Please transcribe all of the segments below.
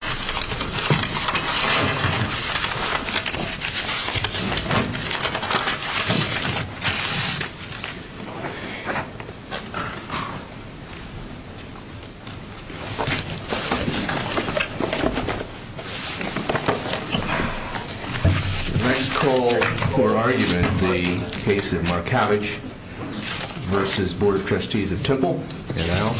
The next call for argument, the case of Markavich versus Board of Trustees of Temple, and I'll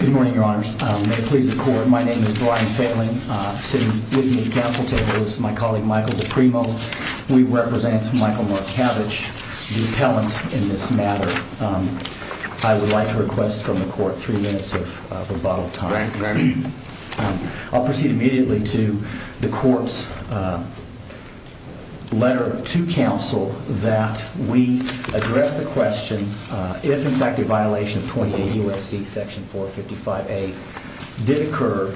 Good morning, your honors. May it please the court, my name is Brian Failing, sitting with me at the council table. This is my colleague Michael DiPrimo. We represent Michael Markavich, the appellant in this matter. I would like to request from the court three minutes of rebuttal time. I'll proceed immediately to the court's letter to council that we address the question, if in fact a violation of 28 U.S.C. section 455A did occur,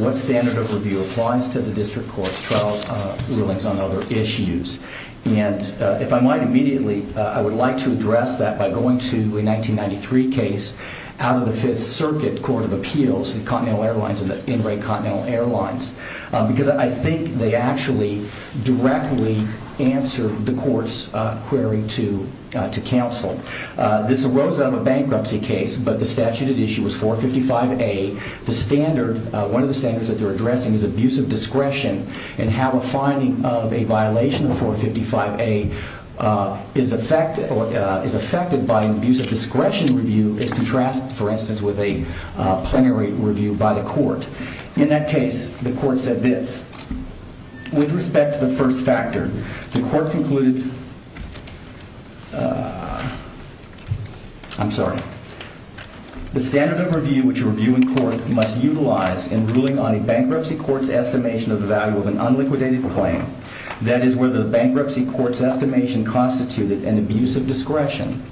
what standard of review applies to the district court's trial rulings on other issues? And if I might immediately, I would like to address that by going to a 1993 case out of the 5th Circuit Court of Appeals, the Continental Airlines and the In-Ray Continental Airlines, because I think they actually directly answer the court's query to council. This arose out of a bankruptcy case, but the statute at issue was 455A. The standard, one of the standards that they're addressing is abuse of discretion, and how a finding of a violation of 455A is affected by an abuse of discretion review is contrasted, for instance, with a plenary review by the court. In that case, the court said this. With respect to the first factor, the court concluded, I'm sorry, the standard of review which you review in court must utilize in ruling on a bankruptcy court's estimation of the value of an unliquidated claim, that is, whether the bankruptcy court's estimation constituted an abuse of discretion,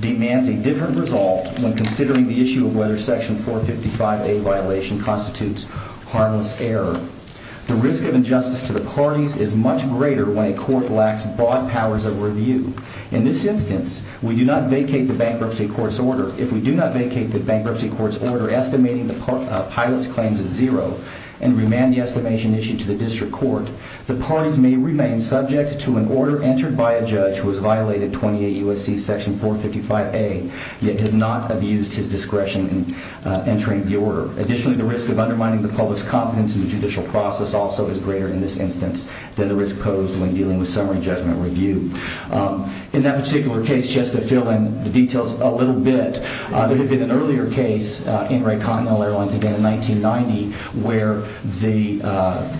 demands a different result when considering the issue of whether section 455A violation constitutes harmless error. The risk of injustice to the parties is much greater when a court lacks broad powers of review. In this instance, we do not vacate the bankruptcy court's order. If we do not vacate the bankruptcy court's order estimating the pilot's claims at zero and remand the estimation issue to the district court, the parties may remain subject to an yet has not abused his discretion in entering the order. Additionally, the risk of undermining the public's confidence in the judicial process also is greater in this instance than the risk posed when dealing with summary judgment review. In that particular case, just to fill in the details a little bit, there had been an earlier case in Rayconnell Airlines, again in 1990, where the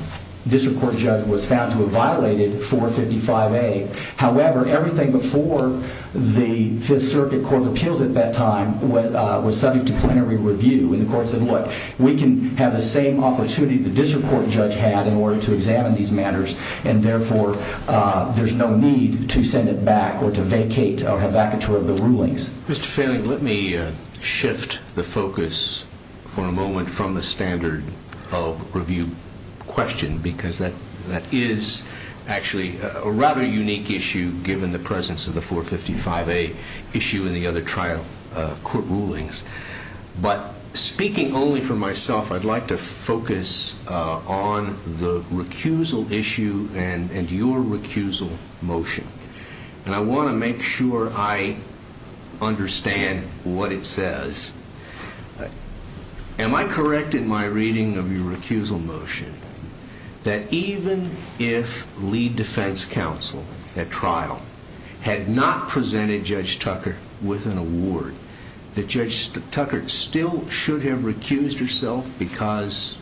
district court judge was found to have violated 455A. However, everything before the Fifth Circuit Court of Appeals at that time was subject to plenary review, and the court said, look, we can have the same opportunity the district court judge had in order to examine these matters, and therefore there's no need to send it back or to vacate or have vacature of the rulings. Mr. Failing, let me shift the focus for a moment from the standard of review question because that is actually a rather unique issue given the presence of the 455A issue in the other trial court rulings. But speaking only for myself, I'd like to focus on the recusal issue and your recusal motion, and I want to make sure I understand what it says. Am I correct in my reading of your recusal motion that even if lead defense counsel at trial had not presented Judge Tucker with an award, that Judge Tucker still should have recused herself because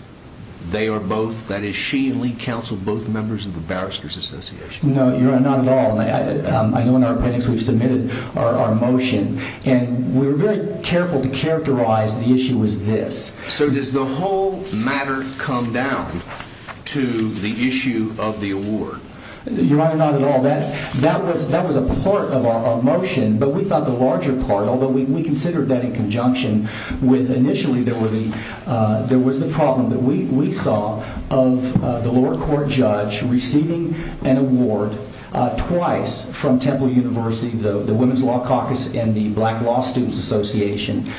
they are both, that is she and lead counsel, both members of the Barristers Association? No, Your Honor, not at all. I know in our appendix we've submitted our motion, and we were very careful to characterize the issue as this. So does the whole matter come down to the issue of the award? Your Honor, not at all. That was a part of our motion, but we thought the larger part, although we considered that in conjunction with initially there was the problem that we saw of the lower court judge receiving an award twice from Temple University, the Black Law Students Association,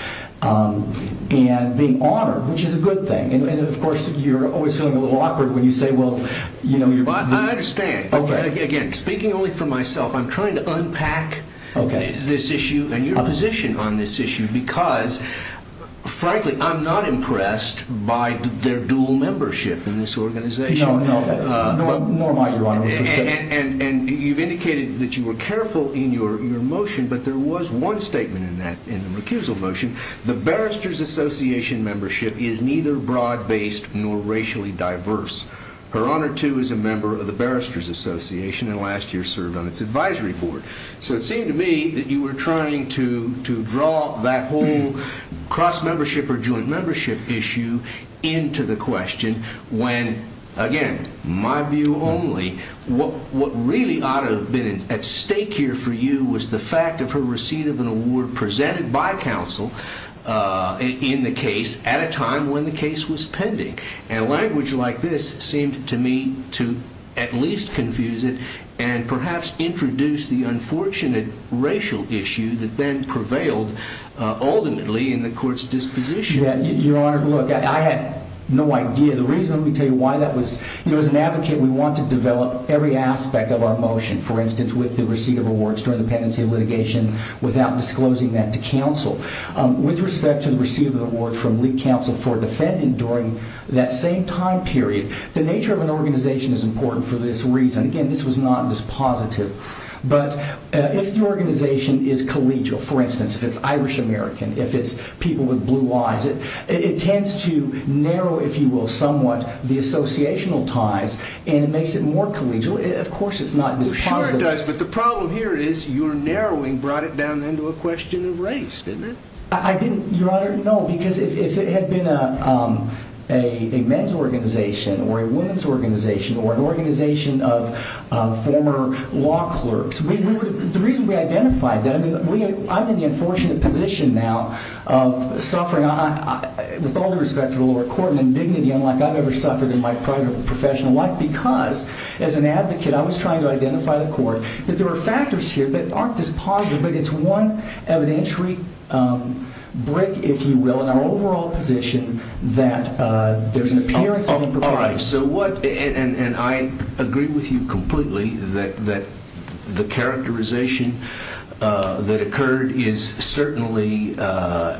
and being honored, which is a good thing. And of course you're always feeling a little awkward when you say, well... I understand. Again, speaking only for myself, I'm trying to unpack this issue and your position on this issue because, frankly, I'm not impressed by their dual membership in this organization. No, no. Nor am I, Your Honor. And you've indicated that you were careful in your motion, but there was one statement in that, in the recusal motion. The Barristers Association membership is neither broad-based nor racially diverse. Her Honor, too, is a member of the Barristers Association and last year served on its advisory board. So it seemed to me that you were trying to draw that whole cross-membership or joint-membership issue into the question when, again, my view only what really ought to have been at stake here for you was the fact of her receipt of an award presented by counsel in the case at a time when the case was pending. And language like this seemed to me to at least confuse it and perhaps introduce the unfortunate racial issue that then prevailed ultimately in the court's disposition. Your Honor, look, I had no idea. The reason I'm going to tell you why that was, you know, as an advocate, we want to develop every aspect of our motion, for instance, with the receipt of awards during the pendency litigation without disclosing that to counsel. With respect to the receipt of the award from League Counsel for a defendant during that same time period, the nature of an organization is important for this reason. Again, this was not a dispositive. But if the organization is collegial, for instance, if it's Irish-American, if it's people with blue eyes, it tends to narrow, if you will, somewhat the associational ties and it makes it more collegial. Of course, it's not dispositive. We're sure it does, but the problem here is your narrowing brought it down into a question of race, didn't it? I didn't, Your Honor, no, because if it had been a men's organization or a women's organization or an organization of former law clerks, the reason we identified that, I mean, I'm in the unfortunate position now of suffering, with all due respect to the lower court, an indignity unlike I've ever suffered in my prior professional life because, as an advocate, I was trying to identify the court, that there are factors here that aren't dispositive, but it's one evidentiary brick, if you will, in our overall position that there's an appearance of improperity. I agree with you completely that the characterization that occurred is certainly a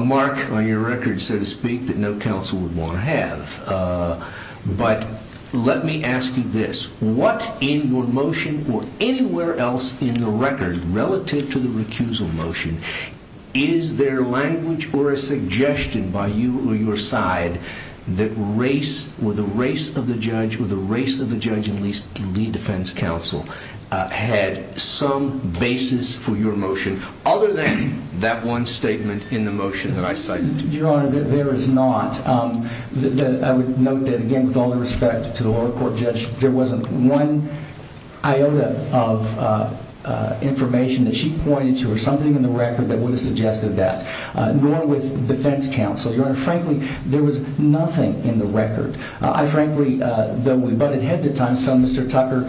mark on your record, so to speak, that no counsel would want to have, but let me ask you this. What in your motion or anywhere else in the record relative to the recusal motion, is there language or a suggestion by you or your side that race or the race of the judge or the race of the judge, at least in the defense counsel, had some basis for your motion other than that one statement in the motion that I cited? Your Honor, there is not. I would note that, again, with all due respect to the lower court judge, there wasn't one iota of information that she pointed to or something in the record that would have suggested that, nor with defense counsel. Your Honor, frankly, there was nothing in the record. I frankly, though we butted heads at times, found Mr. Tucker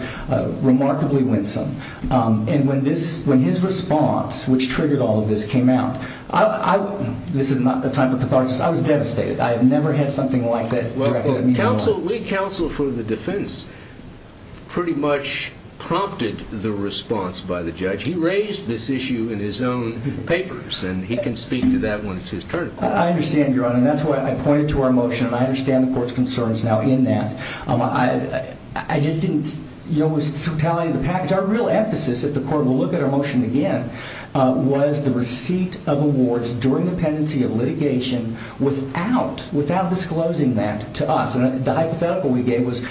remarkably winsome. And when his response, which triggered all of this, came out, this is not the time for catharsis. I was devastated. I have never had something like that directed at me before. Well, Lee Counsel for the Defense pretty much prompted the response by the judge. He raised this issue in his own papers. And he can speak to that when it's his turn. I understand, Your Honor. And that's why I pointed to our motion. And I understand the court's concerns now in that. I just didn't, you know, it was the totality of the package. Our real emphasis at the court, and we'll look at our motion again, was the receipt of awards during the pendency of litigation without disclosing that to us. And the hypothetical we gave was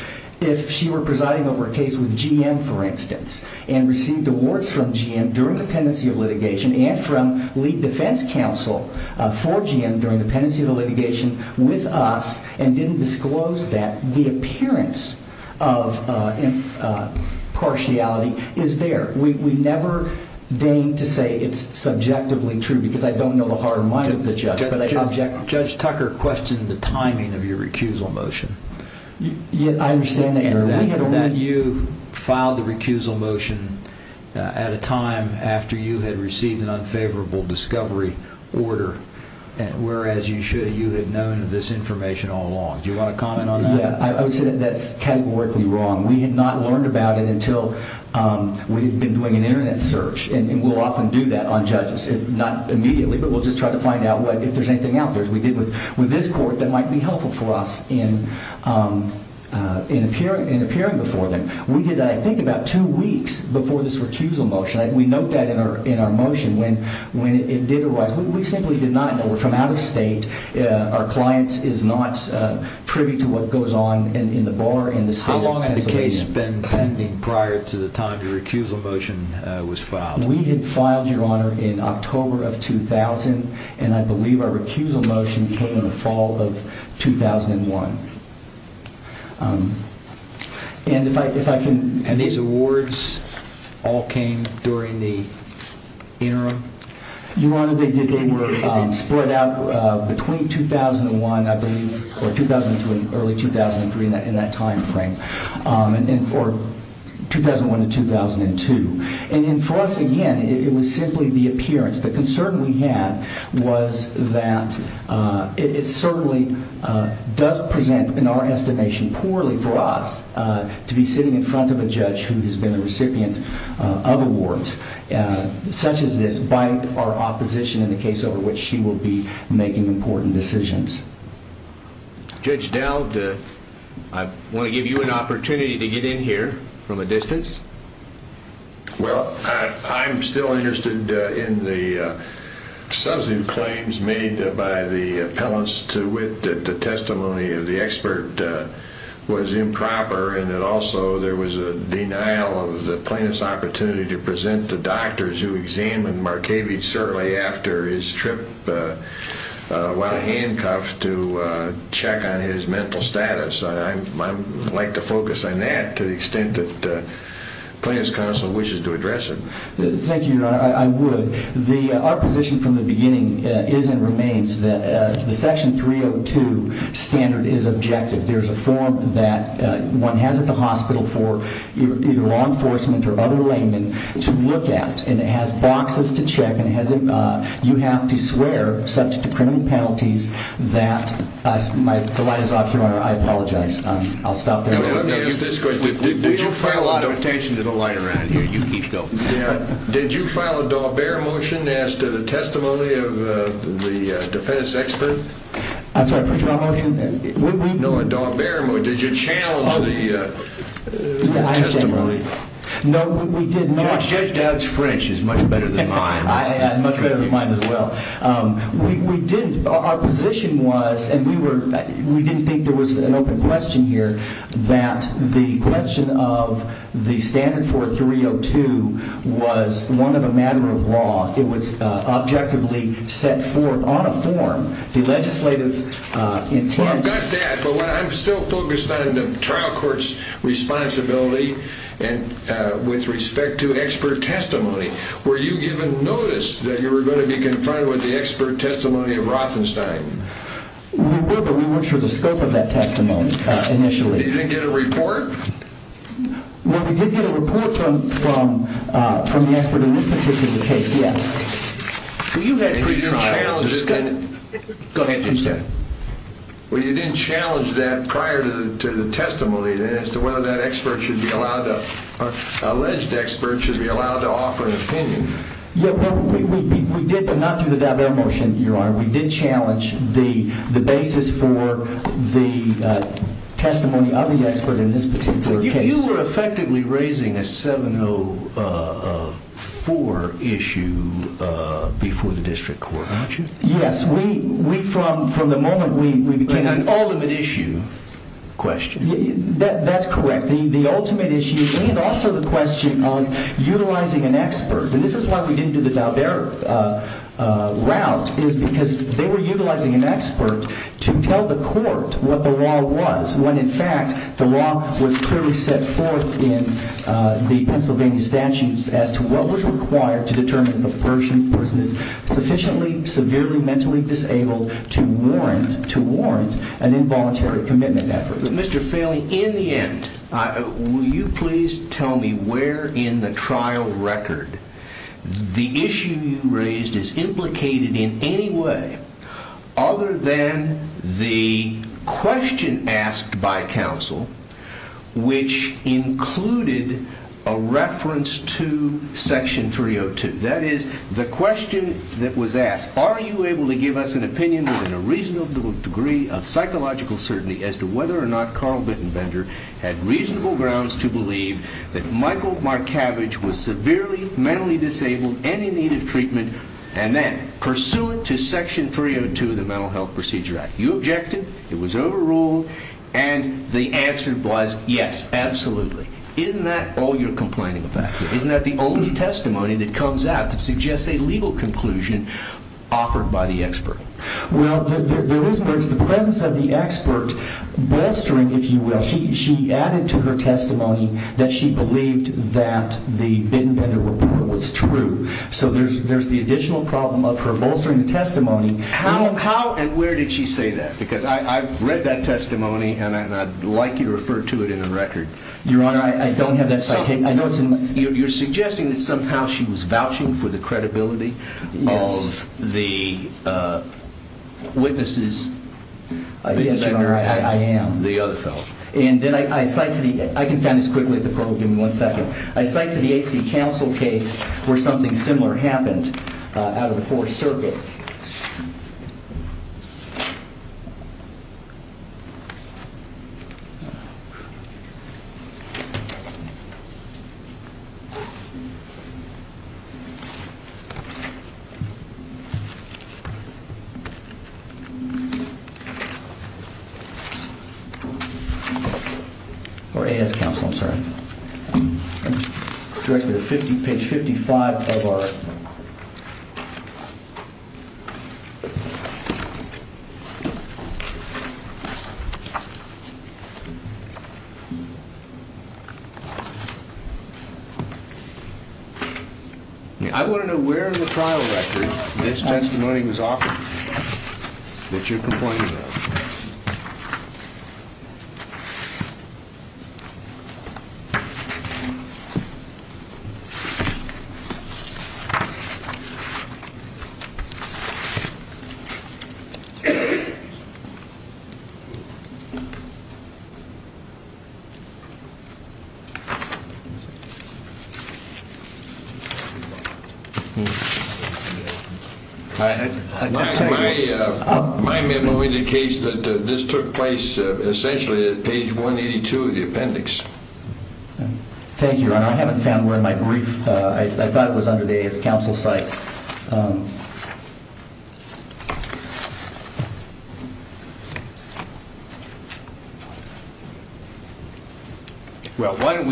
if she were presiding over a case with GM, for instance, and received awards from GM during the pendency of litigation and from Lee Defense Counsel for GM during the pendency of the litigation with us and didn't disclose that, the appearance of impartiality is there. We never deign to say it's subjectively true because I don't know the heart or mind of the judge, but I object. Judge Tucker questioned the timing of your recusal motion. I understand that, Your Honor. That you filed the recusal motion at a time after you had received an unfavorable discovery order, whereas you should have, you had known of this information all along. Do you want to comment on that? Yeah. I would say that that's categorically wrong. We had not learned about it until we had been doing an internet search. And we'll often do that on judges. Not immediately, but we'll just try to find out if there's anything out there. We did with this court that might be helpful for us in appearing before them. We did that, I think, about two weeks before this recusal motion. We note that in our motion when it did arise. We simply did not know. We're from out of state. Our client is not privy to what goes on in the bar in the state of Pennsylvania. How long had the case been pending prior to the time your recusal motion was filed? We had filed, Your Honor, in October of 2000, and I believe our recusal motion came in the fall of 2001. And if I can... And these awards all came during the interim? Your Honor, they were split out between 2001, I believe, or 2002 and early 2003, in that time frame. Or 2001 to 2002. And for us, again, it was simply the appearance. The concern we had was that it certainly does present, in our estimation, poorly for us to be sitting in front of a judge who has been a recipient of awards such as this by our opposition in the case over which she will be making important decisions. Judge Dowd, I want to give you an opportunity to get in here from a distance. Well, I'm still interested in the substantive claims made by the appellants to wit that the testimony of the expert was improper, and that also there was a denial of the plaintiff's opportunity to present the doctors who examined Markavich shortly after his trip while handcuffed to check on his mental status. I'd like to focus on that to the extent that the plaintiff's counsel wishes to address it. Thank you, Your Honor, I would. Our position from the beginning is and remains that the Section 302 standard is objective. There's a form that one has at the hospital for either law enforcement or other laymen to look at, and it has boxes to check, and you have to The line is off, Your Honor. I apologize. I'll stop there. Did you file a Daubert motion as to the testimony of the defense expert? I'm sorry, what's your motion? No, a Daubert motion. Did you challenge the testimony? No, we did not. Judge Dowd's French is much better than mine. Our position was, and we didn't think there was an open question here, that the question of the standard for 302 was one of a matter of law. It was objectively set forth on a form. The legislative intent Well, I've got that, but I'm still focused on the trial court's responsibility with respect to expert testimony. Were you given notice that you were going to be confronted with the expert testimony of Rothenstein? We were, but we weren't sure of the scope of that testimony initially. You didn't get a report? Well, we did get a report from the expert in this particular case, yes. Go ahead, Judge Dowd. Well, you didn't challenge that prior to the testimony as to whether that expert should be allowed to offer an opinion. We did, but not through the Daubert motion, Your Honor. We did challenge the basis for the testimony of the expert in this particular case. You were effectively raising a 704 issue before the district court, weren't you? Yes, from the moment we became... An ultimate issue question. That's correct. The ultimate issue and also the question of utilizing an expert, and this is why we didn't do the Daubert route, is because they were utilizing an expert to tell the court what the law was, when in fact the law was clearly set forth in the Pennsylvania statutes as to what was required to determine a person. A person is sufficiently, severely mentally disabled to warrant an involuntary commitment effort. Mr. Failing, in the end, will you please tell me where in the trial record the issue you raised is implicated in any way other than the question asked by counsel, which included a reference to Section 302. That is, the question that was asked, are you able to give us an opinion within a reasonable degree of psychological certainty as to whether or not Carl Bittenbender had reasonable grounds to believe that Michael Markavich was severely mentally disabled and in need of treatment, and then, pursuant to Section 302 of the Mental Health Procedure Act, you objected, it was overruled, and the answer was yes, absolutely. Isn't that all you're complaining about here? Isn't that the only testimony that comes out that suggests a legal conclusion offered by the expert? Well, there is the presence of the expert bolstering, if you will. She added to her testimony that she believed that the Bittenbender report was true. So there's the additional problem of her bolstering the testimony. How and where did she say that? Because I've read that testimony, and I'd like you to refer to it in the record. Your Honor, I don't have that citation. You're suggesting that somehow she was vouching for the credibility of the witnesses. Yes, Your Honor, I am. The other fellow. And then I cite to the, I can find this quickly at the program in one second, I cite to the AC counsel case where something similar happened out of the Fourth Circuit. Or A.S. counsel, I'm sorry. Directly to page 55 of our... I want to know where in the trial record this testimony was offered that you're complaining about. My memo indicates that this took place essentially at page 182 of the appendix. Thank you, Your Honor. I haven't found where in my brief. I thought it was under the A.S. counsel site. Well, why don't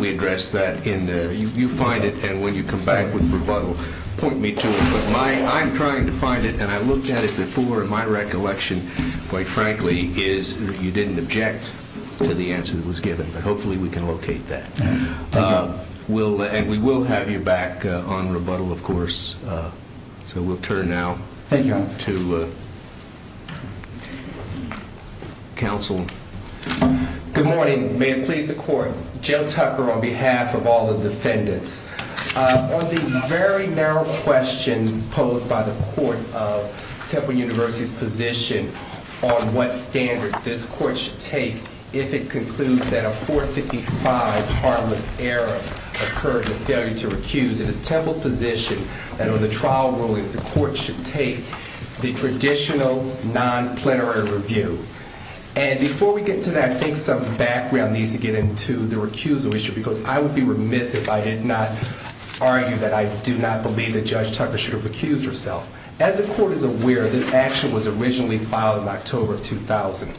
we address that in, you find it, and when you come back with rebuttal, point me to it. But I'm trying to find it, and I looked at it before, and my recollection, quite frankly, is you didn't object to the answer that was given. But hopefully we can locate that. Thank you. And we will have you back on rebuttal, of course, in a moment. Thank you. So we'll turn now to counsel. Good morning. May it please the court. Joe Tucker on behalf of all the defendants. On the very narrow question posed by the court of Temple University's position on what standard this court should take if it concludes that a 455 harmless error occurred, a failure to comply with the trial rulings the court should take, the traditional non-plenary review. And before we get to that, I think some background needs to get into the recusal issue, because I would be remiss if I did not argue that I do not believe that Judge Tucker should have recused herself. As the court is aware, this action was originally filed in October of 2000.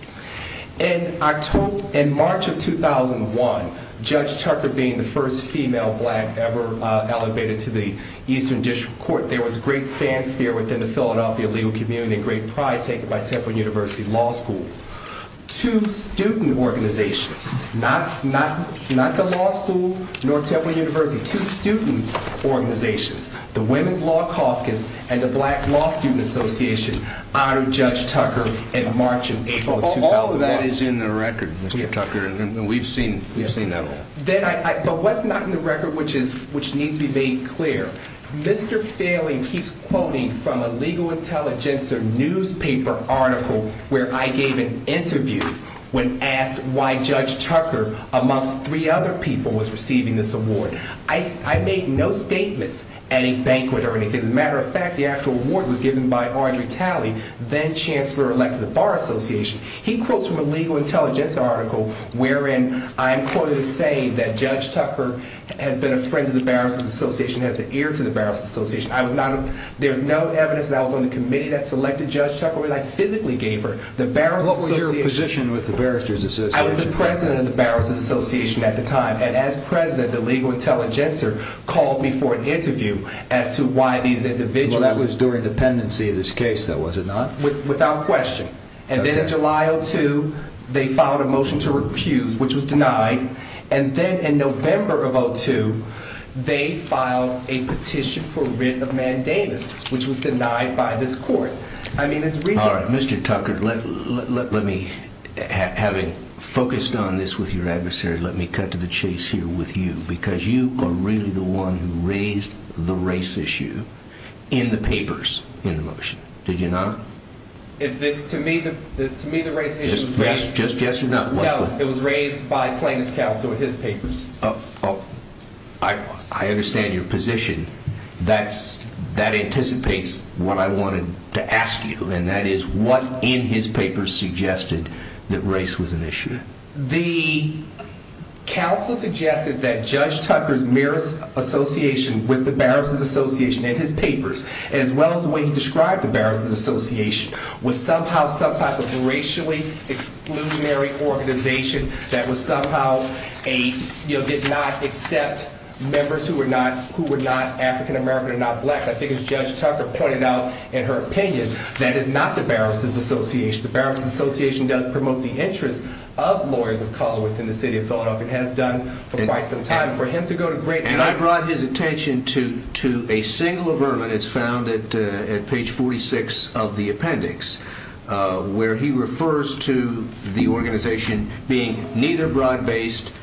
In March of 2001, Judge Tucker, being the first female black ever elevated to the district court, there was great fanfare within the Philadelphia legal community and great pride taken by Temple University Law School. Two student organizations, not the law school nor Temple University, two student organizations, the Women's Law Caucus and the Black Law Student Association, honored Judge Tucker in March and April of 2001. All of that is in the record, Mr. Tucker, and we've seen that all. But what's not in the record, which needs to be made clear, Mr. Failing keeps quoting from a Legal Intelligencer newspaper article where I gave an interview when asked why Judge Tucker, amongst three other people, was receiving this award. I made no statements at a banquet or anything. As a matter of fact, the actual award was given by Audrey Talley, then Chancellor Elect of the Bar Association. He quotes from a Legal Intelligencer article wherein I'm quoted as saying that Judge Tucker has been a friend of the Barrister's Association, has been the ear to the Barrister's Association. There's no evidence that I was on the committee that selected Judge Tucker when I physically gave her the Barrister's Association. What was your position with the Barrister's Association? I was the president of the Barrister's Association at the time, and as president, the Legal Intelligencer called me for an interview as to why these individuals... Well, that was during dependency of this case, though, was it not? Without question. And then in July of 2002, they filed a motion to refuse, which was denied. And then in November of 2002, they filed a petition for writ of mandamus, which was denied by this court. I mean, it's reasonable... All right, Mr. Tucker, let me... Having focused on this with your adversaries, let me cut to the chase here with you, because you are really the one who raised the race issue in the papers in the motion, did you not? To me, the race issue... Just yes or no? No, it was raised by plaintiff's counsel in his papers. Oh, I understand your position. That anticipates what I wanted to ask you, and that is, what in his papers suggested that race was an issue? The counsel suggested that Judge Tucker's marriage association with the Barrister's Association in his papers, as well as the way he described the Barrister's Association, was somehow some type of racially exclusionary organization that somehow did not accept members who were not African American or not black. I think as Judge Tucker pointed out in her opinion, that is not the Barrister's Association. The Barrister's Association does promote the interest of lawyers of color within the city of Philadelphia, and has done for quite some time. For him to go to great lengths... A single averment is found at page 46 of the appendix, where he refers to the organization being neither broad-based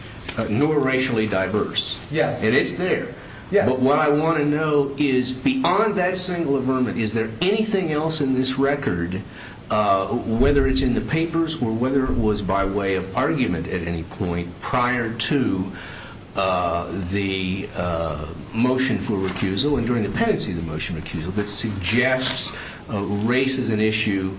nor racially diverse. And it's there. But what I want to know is, beyond that single averment, is there anything else in this record, whether it's in the papers or whether it was by way of argument at any point prior to the motion for recusal and during the pendency of the motion for recusal, that suggests race is an issue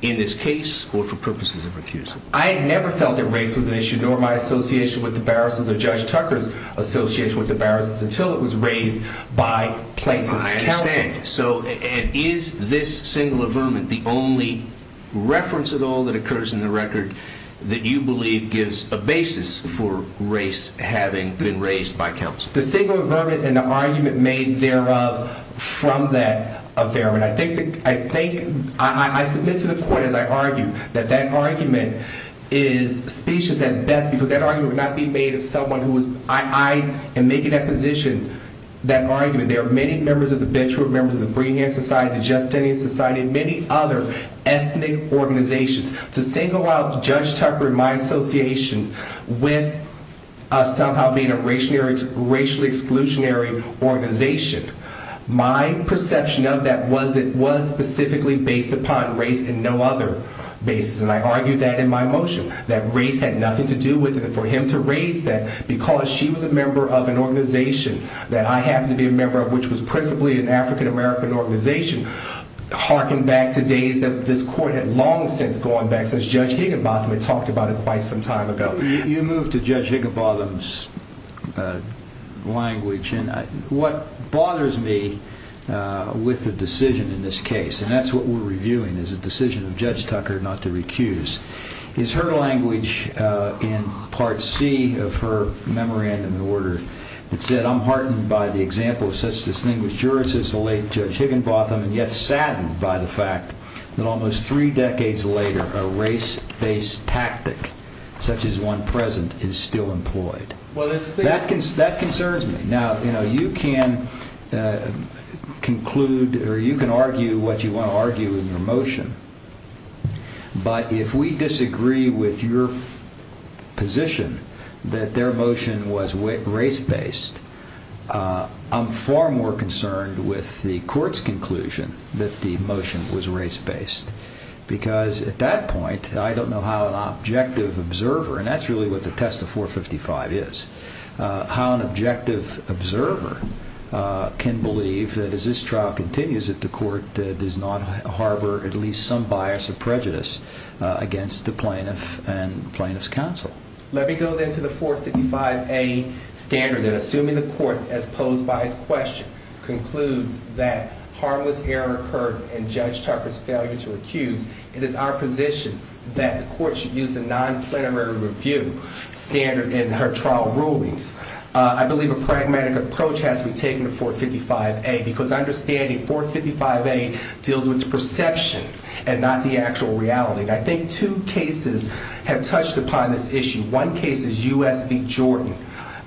in this case or for purposes of recusal? I had never felt that race was an issue, nor my association with the Barrister's or Judge Tucker's association with the Barrister's, until it was raised by plaintiffs' counsel. And is this single averment the only reference at all that occurs in the record that you believe gives a basis for race having been raised by counsel? The single averment and the argument made thereof from that averment. I submit to the court, as I argue, that that argument is specious at best, because that argument would not be true of members of the Breehan Society, the Justinian Society, many other ethnic organizations. To single out Judge Tucker and my association with us somehow being a racially exclusionary organization, my perception of that was that it was specifically based upon race and no other basis. And I argue that in my motion, that race had nothing to do with it. And for him to raise that because she was a member of an organization that I happened to be a member of, an African-American organization, harken back to days that this court had long since gone back, since Judge Higginbotham had talked about it quite some time ago. You move to Judge Higginbotham's language, and what bothers me with the decision in this case, and that's what we're reviewing, is the decision of Judge Tucker not to recuse, is her language in Part C of her memorandum of order that said, I'm heartened by the example of such distinguished jurists as the late Judge Higginbotham, and yet saddened by the fact that almost three decades later, a race-based tactic such as the one present is still employed. That concerns me. Now, you can conclude, or you can argue what you want to argue in your with the court's conclusion that the motion was race-based, because at that point, I don't know how an objective observer, and that's really what the test of 455 is, how an objective observer can believe that as this trial continues, that the court does not harbor at least some bias or prejudice against the plaintiff and the plaintiff's counsel. Let me go then to the 455A standard, that assuming the court, as posed by its question, concludes that harmless error occurred in Judge Tucker's failure to recuse, it is our position that the court should use the non-plenary review standard in her trial rulings. I believe a pragmatic approach has to be taken to 455A, because understanding 455A deals with perception and not the actual reality. I think two cases have touched upon this issue. One case is U.S. v. Jordan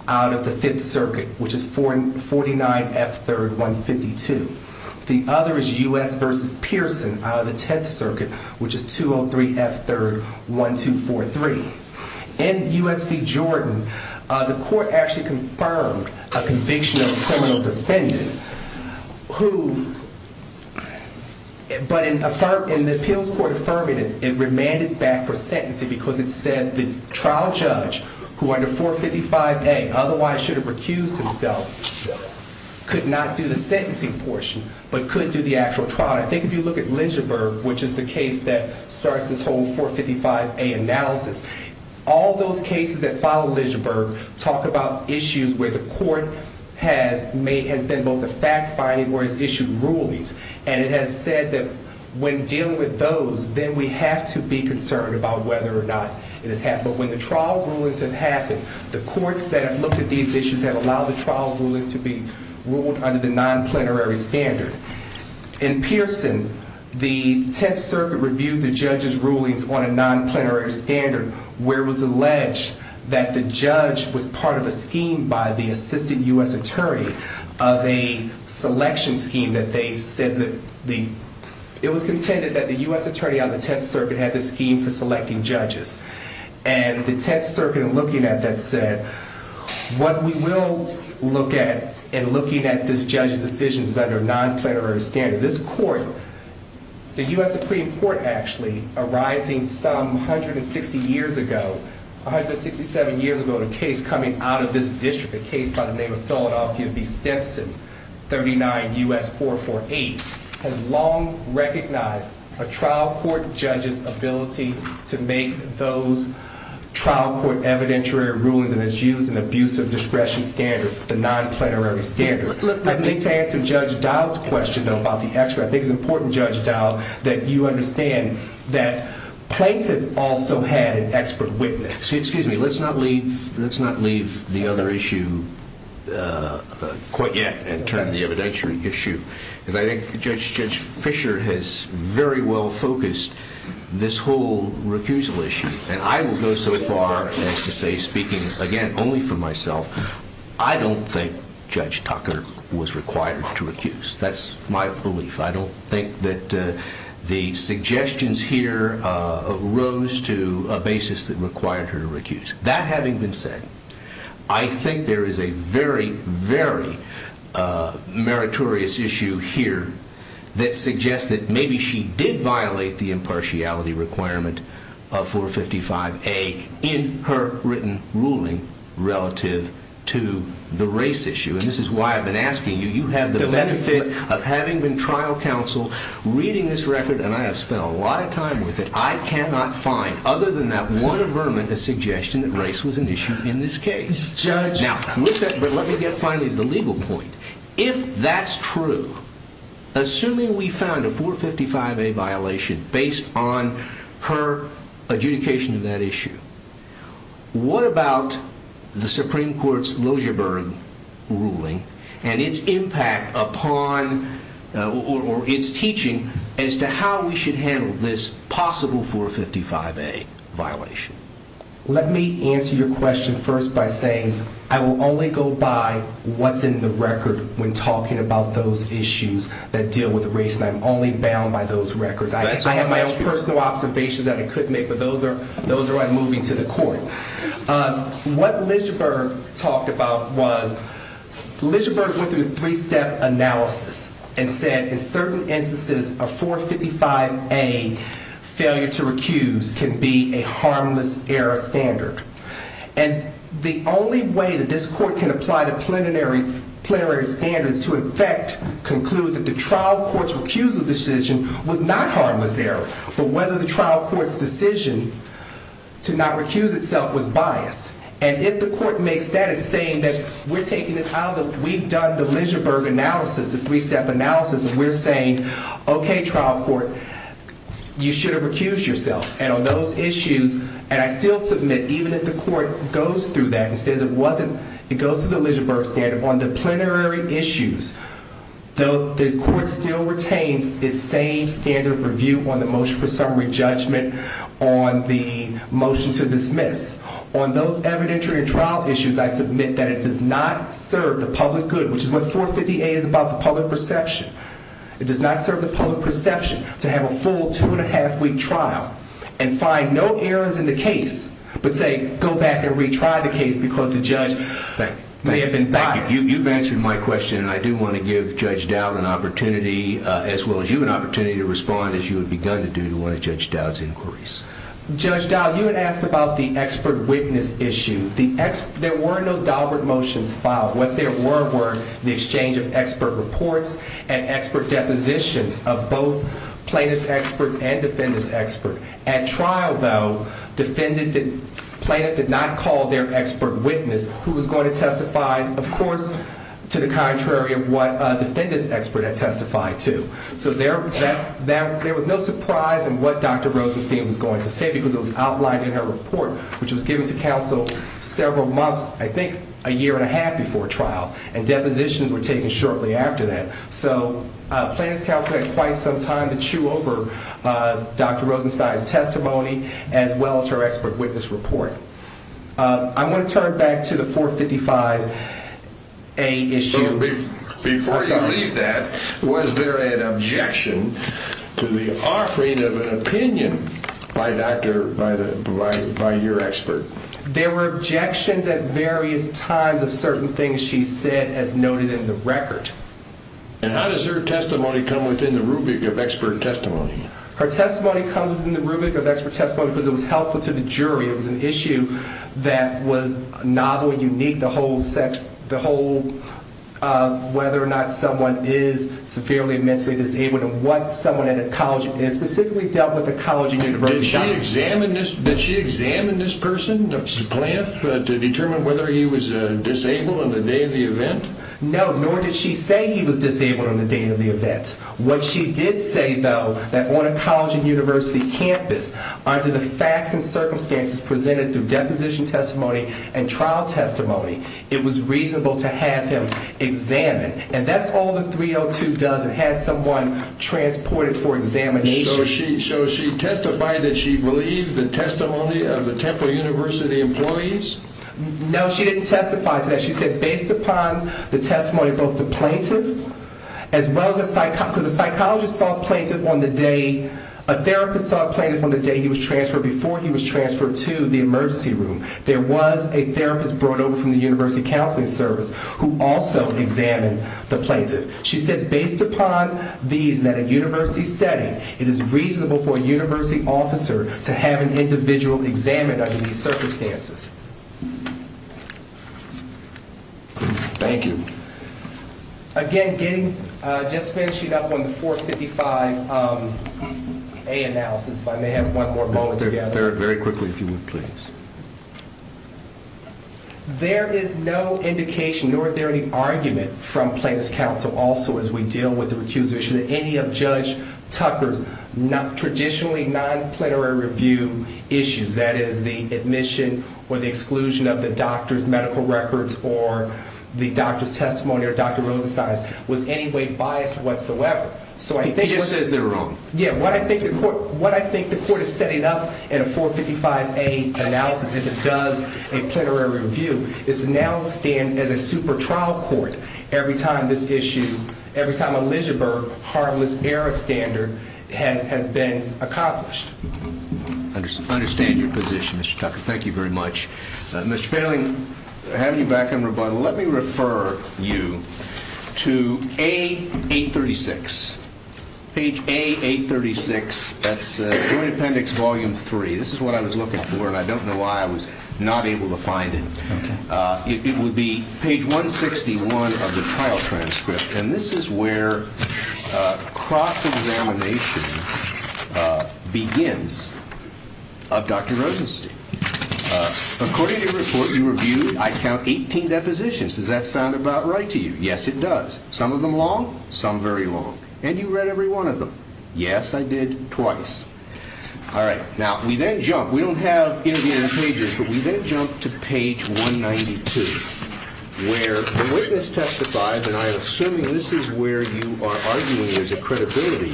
out of the Fifth Circuit, which is 49 F. 3rd 152. The other is U.S. v. Pearson out of the Tenth Circuit, which is 203 F. 3rd 1243. In U.S. v. Jordan, the court actually confirmed a conviction of a criminal defendant, but in the appeals court affirmative, it remanded back for sentencing because it said the trial judge, who under 455A otherwise should have recused himself, could not do the sentencing portion, but could do the actual trial. I think if you look at Lynchburg, which is the case that starts this whole 455A analysis, all those cases that follow Lynchburg talk about issues where the court has been both fact-finding or has issued rulings, and it has said that when dealing with those, then we have to be concerned about whether or not it has happened. But when the trial rulings have happened, the courts that have looked at these issues have allowed the trial rulings to be ruled under the non-plenary standard. In Pearson, the Tenth Circuit reviewed the judge's rulings on a non-plenary standard where it was alleged that the judge was part of a scheme by the assistant U.S. attorney of a selection scheme that they said that the... It was contended that the U.S. attorney on the Tenth Circuit had this scheme for selecting judges. And the Tenth Circuit, in looking at that, said, What we will look at in looking at this judge's decisions is under a non-plenary standard. This court, the U.S. Supreme Court, actually, arising some 160 years ago, 167 years ago in a case coming out of this district, a case by the name of Philadelphia v. Stimpson, 39 U.S. 448, has long recognized a trial court judge's ability to make those trial court evidentiary rulings and has used an abusive discretion standard, the non-plenary standard. I need to answer Judge Dowd's question, though, about the expert. I think it's important, Judge Dowd, that you understand that Plaintiff also had an expert witness. Excuse me. Let's not leave the other issue quite yet and turn to the evidentiary issue. Because I think Judge Fisher has very well focused this whole recusal issue. And I will go so far as to say, speaking, again, only for myself, I don't think Judge Tucker was required to recuse. That's my belief. I don't think that the suggestions here rose to a basis that required her to recuse. That having been said, I think there is a very, very meritorious issue here that suggests that maybe she did violate the impartiality requirement of 455A in her written ruling relative to the race issue. And this is why I've been asking you. You have the benefit of having been trial counsel, reading this record, and I have spent a lot of time with it. I cannot find, other than that one averment, a suggestion that race was an issue in this case. Now, let me get finally to the legal point. If that's true, assuming we found a 455A violation based on her adjudication of that issue, what about the Supreme Court's Liljeburg ruling and its impact upon or its teaching as to how we should handle this possible 455A violation? Let me answer your question first by saying I will only go by what's in the record when talking about those issues that deal with race, and I'm only bound by those records. I have my own personal observations that I couldn't make, but those are why I'm moving to the court. What Liljeburg talked about was Liljeburg went through a three-step analysis and said in certain instances a 455A failure to recuse can be a harmless error standard. And the only way that this court can apply the plenary standards to in fact conclude that the trial court's recusal decision was not harmless error, but whether the trial court's decision to not recuse itself was biased. And if the court makes that, it's saying that we've done the Liljeburg analysis, the three-step analysis, and we're saying, okay, trial court, you should have recused yourself. And on those issues, and I still submit even if the court goes through that and says it goes through the Liljeburg standard, on the plenary issues, the court still retains its same standard of review on the motion for summary judgment, on the motion to dismiss. On those evidentiary and trial issues, I submit that it does not serve the public good, which is what 455A is about, the public perception. It does not serve the public perception to have a full two-and-a-half-week trial and find no errors in the case, but say go back and retry the case because the judge may have been biased. You've answered my question, and I do want to give Judge Dowd an opportunity, as well as you, an opportunity to respond as you had begun to do to one of Judge Dowd's inquiries. Judge Dowd, you had asked about the expert witness issue. There were no Daubert motions filed. What there were were the exchange of expert reports and expert depositions of both plaintiff's experts and defendant's experts. At trial, though, the plaintiff did not call their expert witness, who was going to testify, of course, to the contrary of what a defendant's expert had testified to. So there was no surprise in what Dr. Rosenstein was going to say because it was outlined in her report, which was given to counsel several months, I think a year and a half before trial, and depositions were taken shortly after that. So plaintiff's counsel had quite some time to chew over Dr. Rosenstein's testimony, as well as her expert witness report. I want to turn it back to the 455A issue. Before you leave that, was there an objection to the offering of an opinion by your expert? There were objections at various times of certain things she said as noted in the record. And how does her testimony come within the rubric of expert testimony? Her testimony comes within the rubric of expert testimony because it was helpful to the jury. It was an issue that was novel and unique, the whole whether or not someone is severely mentally disabled and what someone at a college and specifically dealt with at a college and university. Did she examine this person, the plaintiff, to determine whether he was disabled on the day of the event? No, nor did she say he was disabled on the day of the event. What she did say, though, that on a college and university campus, under the facts and circumstances presented through deposition testimony and trial testimony, it was reasonable to have him examined. And that's all the 302 does. It has someone transported for examination. So she testified that she believed the testimony of the Temple University employees? No, she didn't testify to that. She said based upon the testimony of both the plaintiff as well as a psychologist. Because a psychologist saw a plaintiff on the day, a therapist saw a plaintiff on the day he was transferred, before he was transferred to the emergency room. There was a therapist brought over from the University Counseling Service who also examined the plaintiff. She said based upon these, that in a university setting, it is reasonable for a university officer to have an individual examined under these circumstances. Thank you. Again, just finishing up on the 455A analysis, if I may have one more moment together. Very quickly, if you would, please. There is no indication nor is there any argument from Plaintiff's Counsel also as we deal with the recusal issue that any of Judge Tucker's traditionally non-plenary review issues, that is the admission or the exclusion of the doctor's medical records or the doctor's testimony or Dr. Rosenstein's, was in any way biased whatsoever. He just says they're wrong. Yeah. What I think the court is setting up in a 455A analysis, if it does a plenary review, is to now stand as a super trial court every time this issue, every time a Lidgerberg harmless error standard has been accomplished. I understand your position, Mr. Tucker. Thank you very much. Mr. Poehling, having you back on rebuttal, let me refer you to A836, page A836. That's Joint Appendix Volume 3. This is what I was looking for and I don't know why I was not able to find it. It would be page 161 of the trial transcript. And this is where cross-examination begins of Dr. Rosenstein. According to your report you reviewed, I count, 18 depositions. Does that sound about right to you? Yes, it does. Some of them long, some very long. And you read every one of them. Yes, I did. Twice. All right. Now, we then jump. We don't have interviewing pages, but we then jump to page 192, where the witness testifies, and I assume this is where you are arguing there's a credibility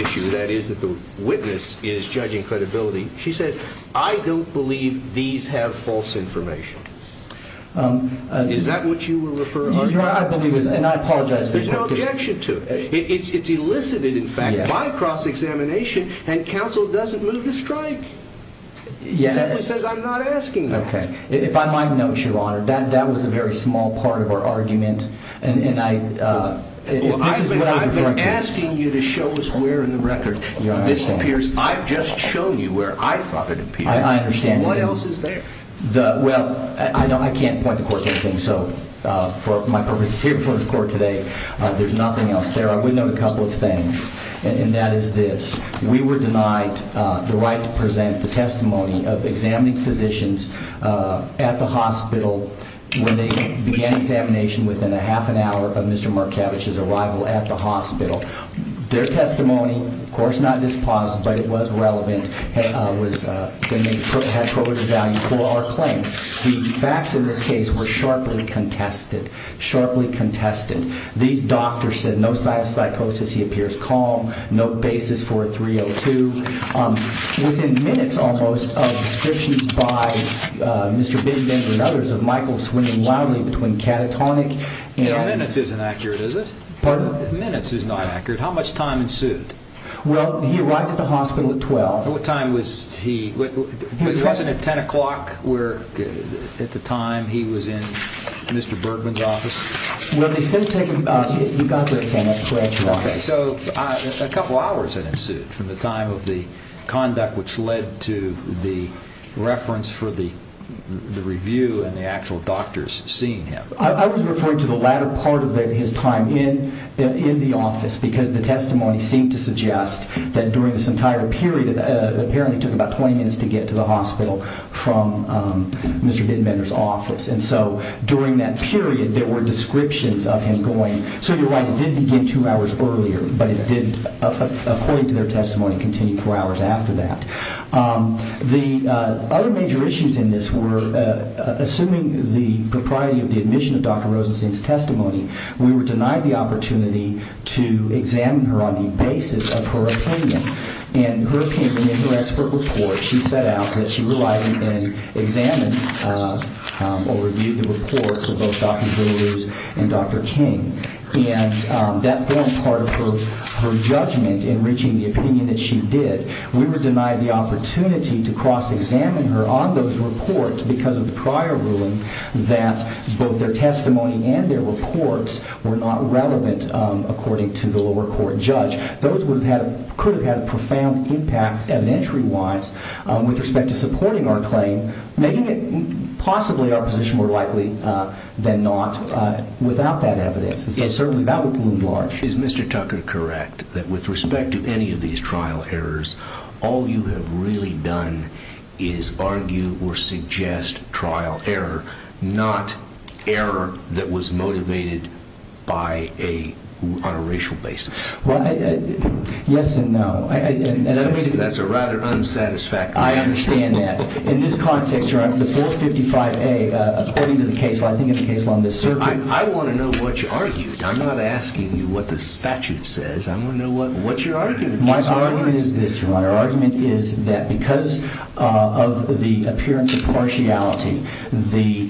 issue, that is that the witness is judging credibility. She says, I don't believe these have false information. Is that what you were referring to? I believe it is, and I apologize. There's no objection to it. It's elicited, in fact, by cross-examination, and counsel doesn't move to strike. He simply says, I'm not asking that. Okay. If I might note, Your Honor, that was a very small part of our argument. I've been asking you to show us where in the record this appears. I've just shown you where I thought it appeared. I understand. What else is there? Well, I can't point the court to anything, so for my purposes here before the court today, there's nothing else there. I would note a couple of things, and that is this. We were denied the right to present the testimony of examining physicians at the hospital when they began examination within a half an hour of Mr. Markavich's arrival at the hospital. Their testimony, of course not disposed, but it was relevant, had quoted value for our claim. The facts in this case were sharply contested, sharply contested. These doctors said no psychosis, he appears calm, no basis for a 302. Within minutes, almost, of descriptions by Mr. Bigbend and others of Michael swinging wildly between catatonic and- Minutes isn't accurate, is it? Pardon? Minutes is not accurate. How much time ensued? Well, he arrived at the hospital at 12. What time was he- wasn't it 10 o'clock at the time he was in Mr. Bergman's office? Well, they said- you got there at 10, that's correct. Okay, so a couple of hours had ensued from the time of the conduct which led to the reference for the review and the actual doctors seeing him. I was referring to the latter part of his time in the office because the testimony seemed to suggest that during this entire period, it apparently took about 20 minutes to get to the hospital from Mr. Bigbender's office. And so during that period, there were descriptions of him going- so you're right, it did begin two hours earlier, but it did, according to their testimony, continue four hours after that. The other major issues in this were, assuming the propriety of the admission of Dr. Rosenstein's testimony, we were denied the opportunity to examine her on the basis of her opinion. In her opinion, in her expert report, she set out that she relied on and examined or reviewed the reports of both Dr. Villalooz and Dr. King. And that formed part of her judgment in reaching the opinion that she did. We were denied the opportunity to cross-examine her on those reports because of the prior ruling that both their testimony and their reports were not relevant, according to the lower court judge. Those could have had a profound impact, evidentiary-wise, with respect to supporting our claim, making it possibly our position more likely than not without that evidence. Certainly, that would have been large. Is Mr. Tucker correct that with respect to any of these trial errors, all you have really done is argue or suggest trial error, not error that was motivated on a racial basis? Yes and no. That's a rather unsatisfactory answer. I understand that. In this context, Your Honor, the 455A, according to the case law, I think it's the case law on this circuit. I want to know what you argued. I'm not asking you what the statute says. I want to know what your argument is. My argument is this, Your Honor. My argument is that because of the appearance of partiality, the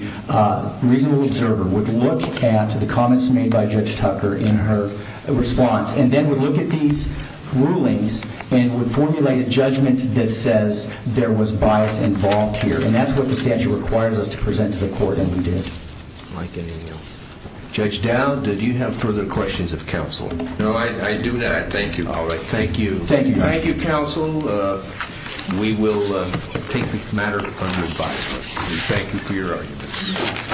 reasonable observer would look at the comments made by Judge Tucker in her response and then would look at these rulings and would formulate a judgment that says there was bias involved here. That's what the statute requires us to present to the court, and we did. Judge Dowd, do you have further questions of counsel? No, I do not. Thank you. Thank you. Thank you, counsel. We will take the matter under advice. Thank you for your arguments.